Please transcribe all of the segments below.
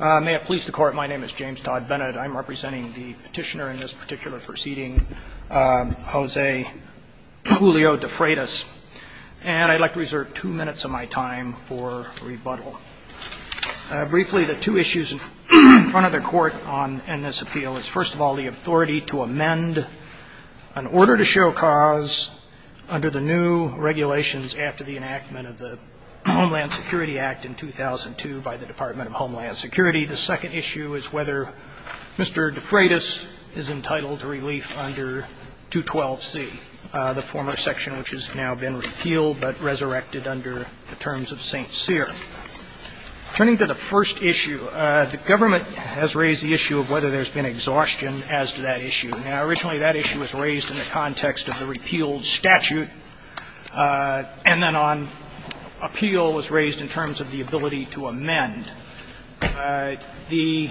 May it please the court, my name is James Todd Bennett. I'm representing the petitioner in this particular proceeding, Jose Julio De Frietas, and I'd like to reserve two minutes of my time for rebuttal. Briefly, the two issues in front of the court in this appeal is, first of all, the authority to amend an order to show cause under the new regulations after the enactment of the Homeland Security Act in 2002 by the Department of Homeland Security. The second issue is whether Mr. De Frietas is entitled to relief under 212C, the former section which has now been repealed but resurrected under the terms of St. Cyr. Turning to the first issue, the government has raised the issue of whether there's been exhaustion as to that issue. Now, originally that issue was raised in the context of the repealed statute, and then on appeal was raised in terms of the ability to amend. The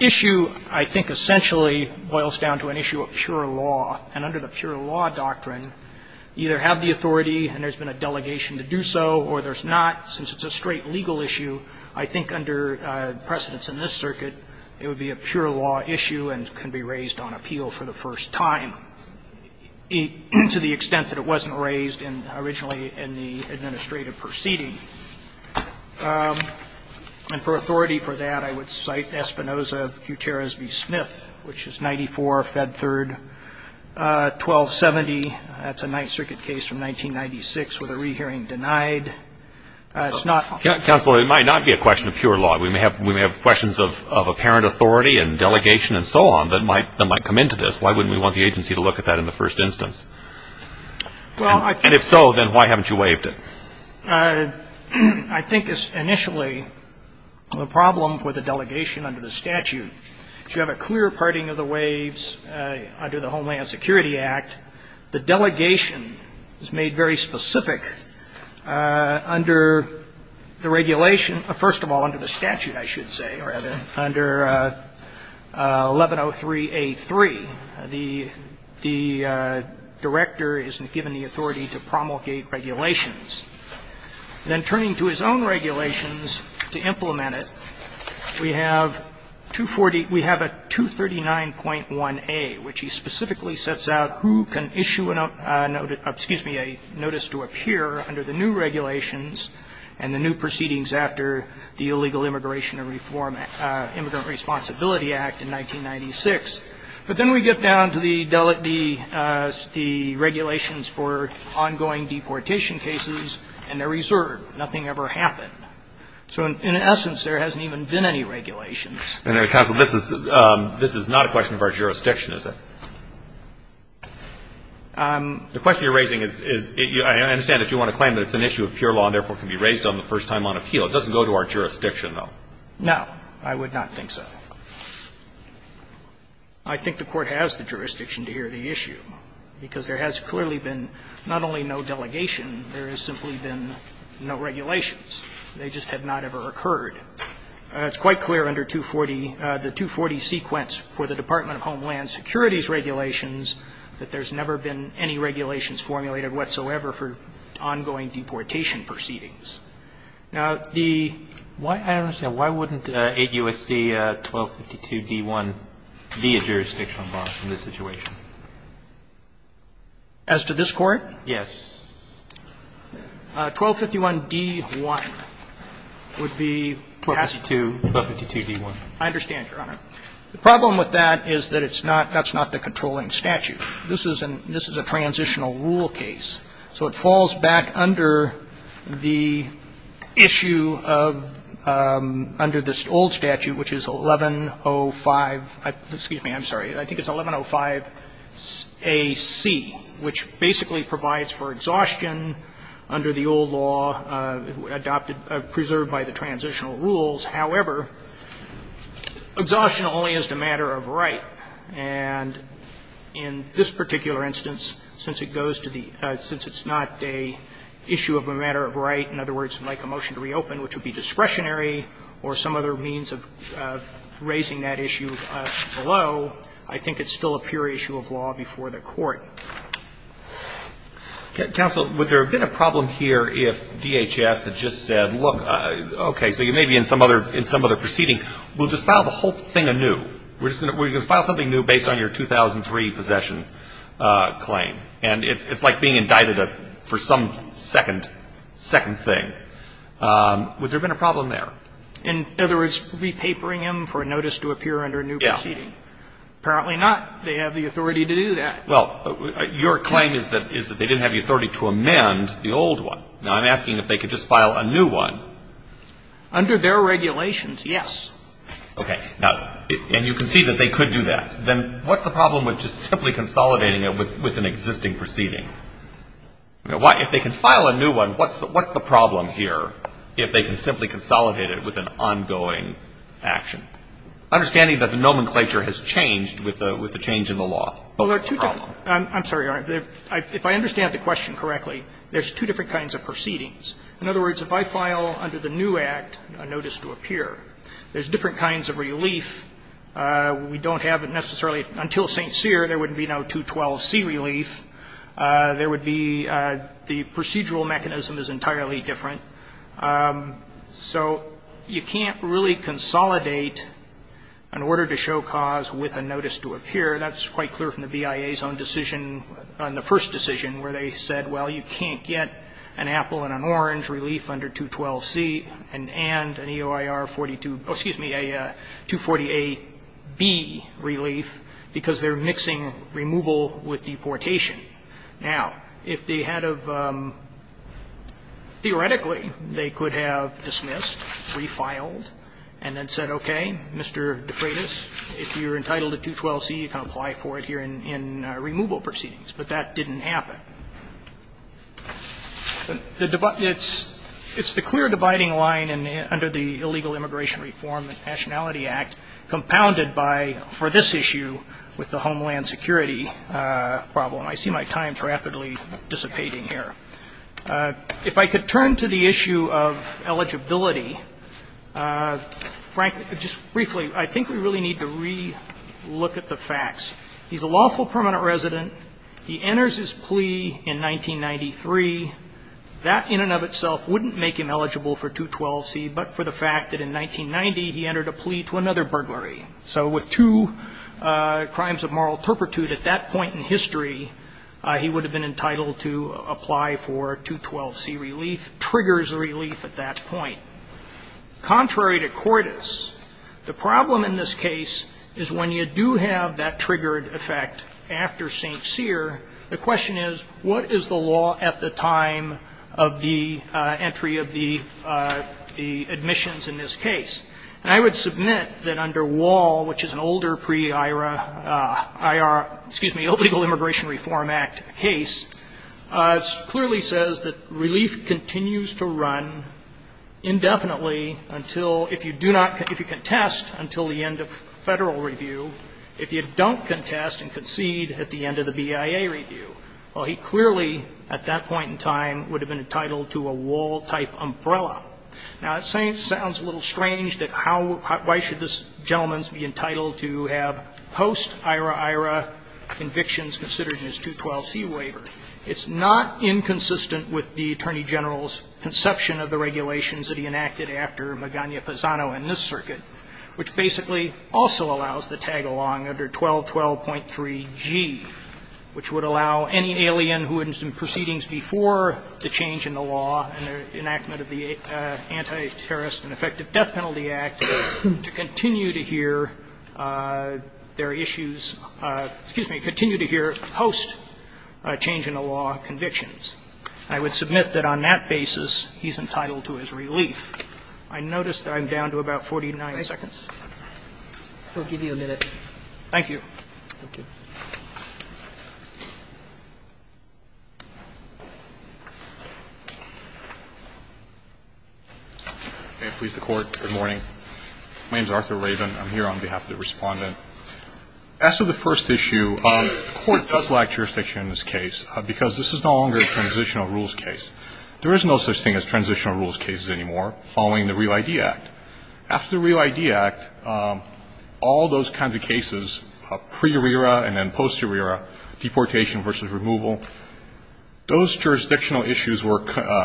issue, I think, essentially boils down to an issue of pure law. And under the pure law doctrine, you either have the authority and there's been a delegation to do so, or there's not, since it's a straight legal issue. I think under precedence in this circuit, it would be a pure law issue and can be raised on appeal for the first time, to the extent that it wasn't raised originally in the administrative proceeding. And for authority for that, I would cite Espinoza v. Smith, which is 94 Fed Third 1270. That's a Ninth Circuit case from 1996 with a rehearing denied. It's not. Counsel, it might not be a question of pure law. We may have questions of apparent authority and delegation and so on that might come into this. Why wouldn't we want the agency to look at that in the first instance? And if so, then why haven't you waived it? I think initially the problem with the delegation under the statute, you have a clear parting of the waives under the Homeland Security Act. The delegation is made very specific under the regulation. First of all, under the statute, I should say, rather, under 1103A3. The director isn't given the authority to promulgate regulations. Then turning to his own regulations to implement it, we have 240 we have a 239.1A, which he specifically sets out who can issue a notice to appear under the new regulations and the new proceedings after the Illegal Immigration and Reform Immigrant Responsibility Act in 1996. But then we get down to the regulations for ongoing deportation cases, and they're reserved. Nothing ever happened. So in essence, there hasn't even been any regulations. And, Counsel, this is not a question of our jurisdiction, is it? The question you're raising is, I understand that you want to claim that it's an issue of pure law and therefore can be raised on the first time on appeal. It doesn't go to our jurisdiction, though. No. I would not think so. I think the Court has the jurisdiction to hear the issue, because there has clearly been not only no delegation, there has simply been no regulations. They just have not ever occurred. It's quite clear under 240, the 240 sequence for the Department of Homeland Security's regulations, that there's never been any regulations formulated whatsoever for ongoing deportation proceedings. Now, the why, I don't understand, why wouldn't 8 U.S.C. 1252d1 be a jurisdiction on bond in this situation? As to this Court? Yes. 1251d1 would be? 1252d1. I understand, Your Honor. The problem with that is that it's not, that's not the controlling statute. This is a transitional rule case. So it falls back under the issue of, under this old statute, which is 1105, excuse It's not a jurisdiction under the old law. It's an exhaustion under the old law adopted, preserved by the transitional rules. However, exhaustion only is the matter of right. And in this particular instance, since it goes to the, since it's not an issue of a matter of right, in other words, like a motion to reopen, which would be discretionary or some other means of raising that issue below, I think it's still a pure issue of law before the Court. Roberts. Counsel, would there have been a problem here if DHS had just said, look, okay, so you may be in some other proceeding. We'll just file the whole thing anew. We're going to file something new based on your 2003 possession claim. And it's like being indicted for some second, second thing. Would there have been a problem there? In other words, repapering him for a notice to appear under a new proceeding. Apparently not. They have the authority to do that. Well, your claim is that they didn't have the authority to amend the old one. Now, I'm asking if they could just file a new one. Under their regulations, yes. Okay. Now, and you can see that they could do that. Then what's the problem with just simply consolidating it with an existing proceeding? If they can file a new one, what's the problem here if they can simply consolidate it with an ongoing action? Understanding that the nomenclature has changed with the change in the law. Well, there are two different. I'm sorry, Your Honor. If I understand the question correctly, there's two different kinds of proceedings. In other words, if I file under the new act a notice to appear, there's different kinds of relief. We don't have necessarily until St. Cyr there would be no 212C relief. There would be the procedural mechanism is entirely different. So you can't really consolidate an order to show cause with a notice to appear. That's quite clear from the BIA's own decision on the first decision where they said, well, you can't get an apple and an orange relief under 212C and an EOIR relief under 242, excuse me, a 240AB relief because they're mixing removal with deportation. Now, if they had a, theoretically, they could have dismissed, refiled, and then said, okay, Mr. De Freitas, if you're entitled to 212C, you can apply for it here in removal proceedings. But that didn't happen. It's the clear dividing line under the Illegal Immigration Reform and Nationality Act compounded by, for this issue, with the homeland security problem. I see my time's rapidly dissipating here. If I could turn to the issue of eligibility, frankly, just briefly, I think we really need to re-look at the facts. He's a lawful permanent resident. He enters his plea in 1993. That, in and of itself, wouldn't make him eligible for 212C, but for the fact that in 1990 he entered a plea to another burglary. So with two crimes of moral turpitude at that point in history, he would have been entitled to apply for 212C relief, triggers relief at that point. Contrary to Cordes, the problem in this case is when you do have that triggered effect after St. Cyr, the question is, what is the law at the time of the entry of the admissions in this case? And I would submit that under Wall, which is an older pre-IR, IR, excuse me, Illegal Immigration Reform Act case, it clearly says that relief continues to run indefinitely until, if you do not, if you contest until the end of Federal review, if you don't contest and concede at the end of the BIA review. Well, he clearly, at that point in time, would have been entitled to a Wall-type umbrella. Now, it sounds a little strange that how why should this gentleman be entitled to have post-IRA, IRA convictions considered in his 212C waiver. It's not inconsistent with the Attorney General's conception of the regulations that he enacted after Magana-Pisano in this circuit, which basically also allows the tag-along under 1212.3G, which would allow any alien who is in proceedings before the change in the law and the enactment of the Anti-Terrorist and Effective Death Penalty Act to continue to hear their issues, excuse me, continue to hear post-change-in-the-law convictions. I would submit that on that basis, he's entitled to his relief. I notice that I'm down to about 49 seconds. We'll give you a minute. Thank you. May it please the Court. Good morning. My name is Arthur Raven. I'm here on behalf of the Respondent. As to the first issue, the Court does lack jurisdiction in this case because this is no longer a transitional rules case. There is no such thing as transitional rules cases anymore following the REAL-ID Act. After the REAL-ID Act, all those kinds of cases, pre-ERA and then post-ERA, deportation versus removal, those jurisdictional issues were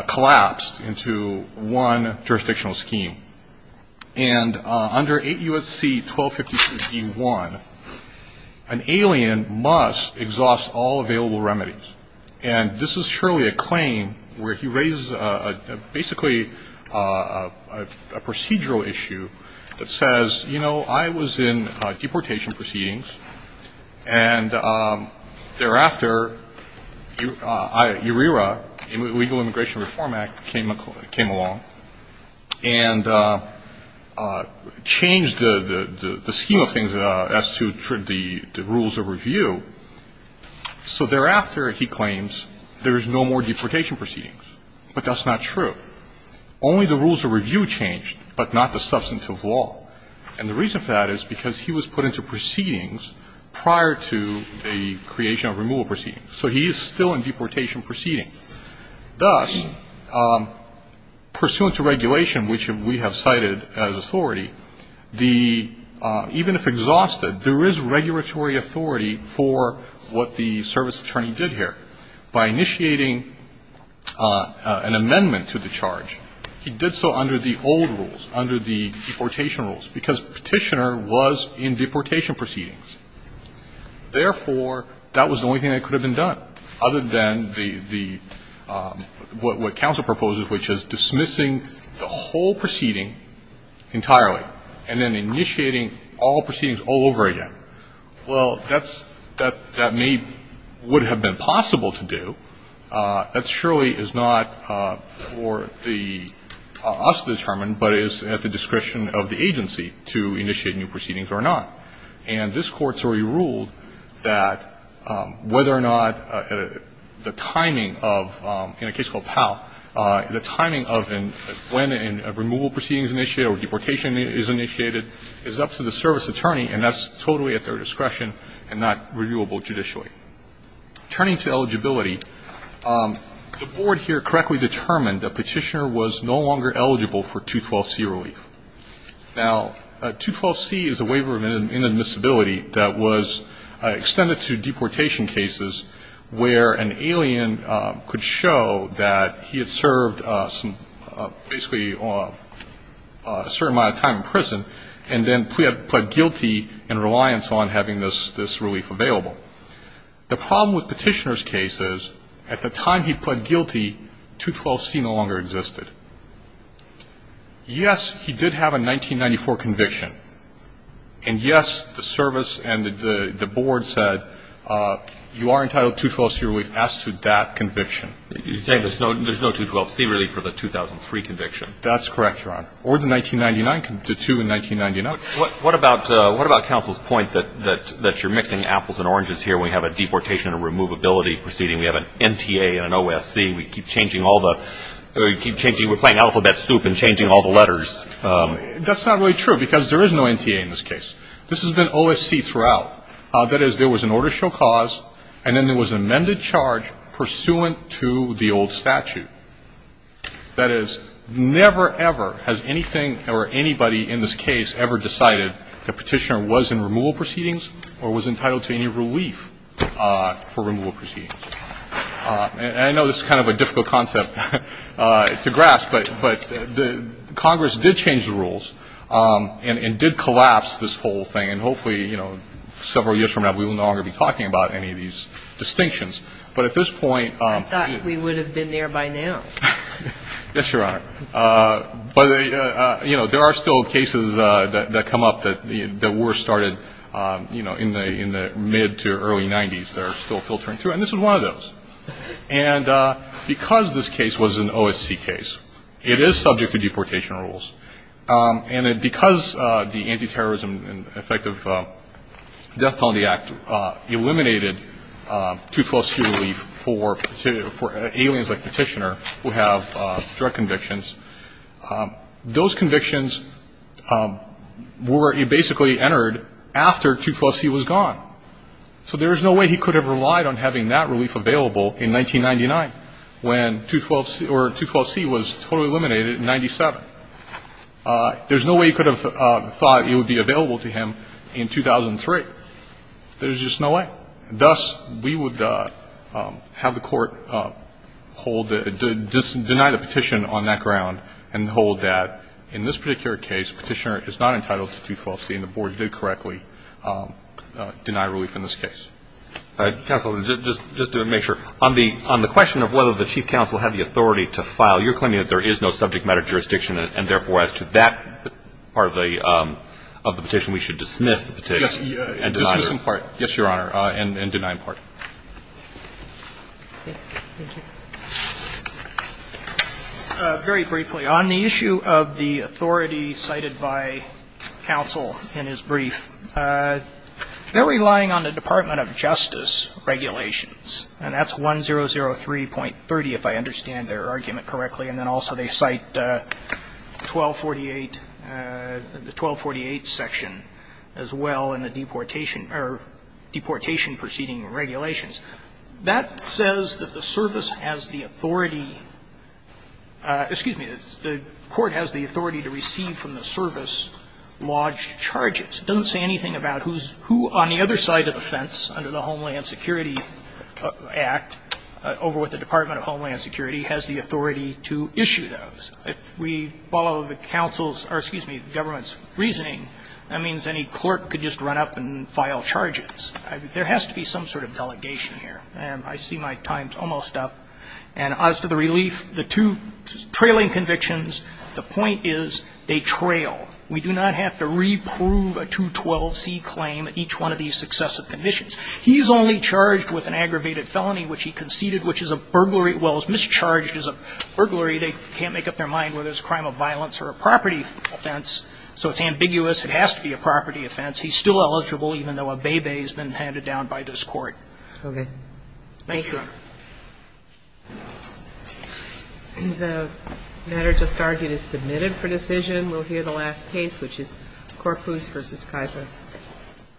collapsed into one jurisdictional scheme. And under 8 U.S.C. 1252.1, an alien must exhaust all available remedies. And this is surely a claim where he raises basically a procedural issue that says, you know, I was in deportation proceedings, and thereafter, IRERA, Illegal Immigration Reform Act, came along and changed the scheme of things as to the rules of review. So thereafter, he claims, there is no more deportation proceedings. But that's not true. Only the rules of review changed, but not the substantive law. And the reason for that is because he was put into proceedings prior to the creation of removal proceedings. So he is still in deportation proceedings. Thus, pursuant to regulation, which we have cited as authority, the even if exhausted, there is regulatory authority for what the service attorney did here. By initiating an amendment to the charge, he did so under the old rules, under the deportation rules, because Petitioner was in deportation proceedings. Therefore, that was the only thing that could have been done, other than the what counsel proposes, which is dismissing the whole proceeding entirely and then initiating all proceedings all over again. Well, that may have been possible to do. That surely is not for us to determine, but it is at the discretion of the agency to initiate new proceedings or not. And this Court's already ruled that whether or not the timing of, in a case called Powell, the timing of when a removal proceeding is initiated or deportation is initiated is up to the service attorney, and that's totally at their discretion and not reviewable judicially. Turning to eligibility, the Board here correctly determined that Petitioner was no longer eligible for 212C relief. Now, 212C is a waiver of inadmissibility that was extended to deportation cases where an alien could show that he had served some basically a certain amount of time in prison and then pled guilty in reliance on having this relief available. The problem with Petitioner's case is at the time he pled guilty, 212C no longer existed. Yes, he did have a 1994 conviction, and yes, the service and the Board said you are entitled to 212C relief as to that conviction. You're saying there's no 212C relief for the 2003 conviction. That's correct, Your Honor. Or the 1999, the two in 1999. What about counsel's point that you're mixing apples and oranges here? We have a deportation and a removability proceeding. We have an NTA and an OSC. We keep changing all the we're playing alphabet soup and changing all the letters. That's not really true, because there is no NTA in this case. This has been OSC throughout. That is, there was an order to show cause, and then there was an amended charge pursuant to the old statute. That is, never, ever has anything or anybody in this case ever decided the Petitioner was in removal proceedings or was entitled to any relief for removal proceedings. And I know this is kind of a difficult concept to grasp, but the Congress did change the rules and did collapse this whole thing. And hopefully, you know, several years from now, we will no longer be talking about any of these distinctions. But at this point. I thought we would have been there by now. Yes, Your Honor. But, you know, there are still cases that come up that were started, you know, in the mid to early 90s that are still filtering through. And this is one of those. And because this case was an OSC case, it is subject to deportation rules. And because the Anti-Terrorism and Effective Death Penalty Act eliminated 212C relief for aliens like Petitioner who have drug convictions, those convictions were basically entered after 212C was gone. So there is no way he could have relied on having that relief available in 1999 when 212C was totally eliminated in 1997. There is no way he could have thought it would be available to him in 2003. There is just no way. Thus, we would have the Court hold the – deny the petition on that ground and hold that in this particular case, Petitioner is not entitled to 212C, and the Board did correctly deny relief in this case. All right. Counsel, just to make sure. On the question of whether the Chief Counsel had the authority to file, you're claiming that there is no subject matter jurisdiction, and therefore, as to that part of the petition, we should dismiss the petition and deny it. Yes, Your Honor. And deny in part. Thank you. Very briefly, on the issue of the authority cited by counsel in his brief, they're relying on the Department of Justice regulations, and that's 1003.30, if I understand their argument correctly. And then also they cite 1248 – the 1248 section as well in the deportation proceeding regulations. That says that the service has the authority – excuse me, the court has the authority to receive from the service lodged charges. It doesn't say anything about who's – who on the other side of the fence under the Homeland Security Act, over with the Department of Homeland Security, has the authority to issue those. If we follow the counsel's – or excuse me, the government's reasoning, that means any clerk could just run up and file charges. There has to be some sort of delegation here. And I see my time's almost up. And as to the relief, the two trailing convictions, the point is they trail. We do not have to reprove a 212C claim at each one of these successive convictions. He's only charged with an aggravated felony, which he conceded, which is a burglary – well, is mischarged as a burglary. They can't make up their mind whether it's a crime of violence or a property offense, so it's ambiguous. It has to be a property offense. He's still eligible even though a bébé has been handed down by this court. Okay. Thank you, Your Honor. The matter just argued is submitted for decision. We'll hear the last case, which is Corpus v. Kaiser.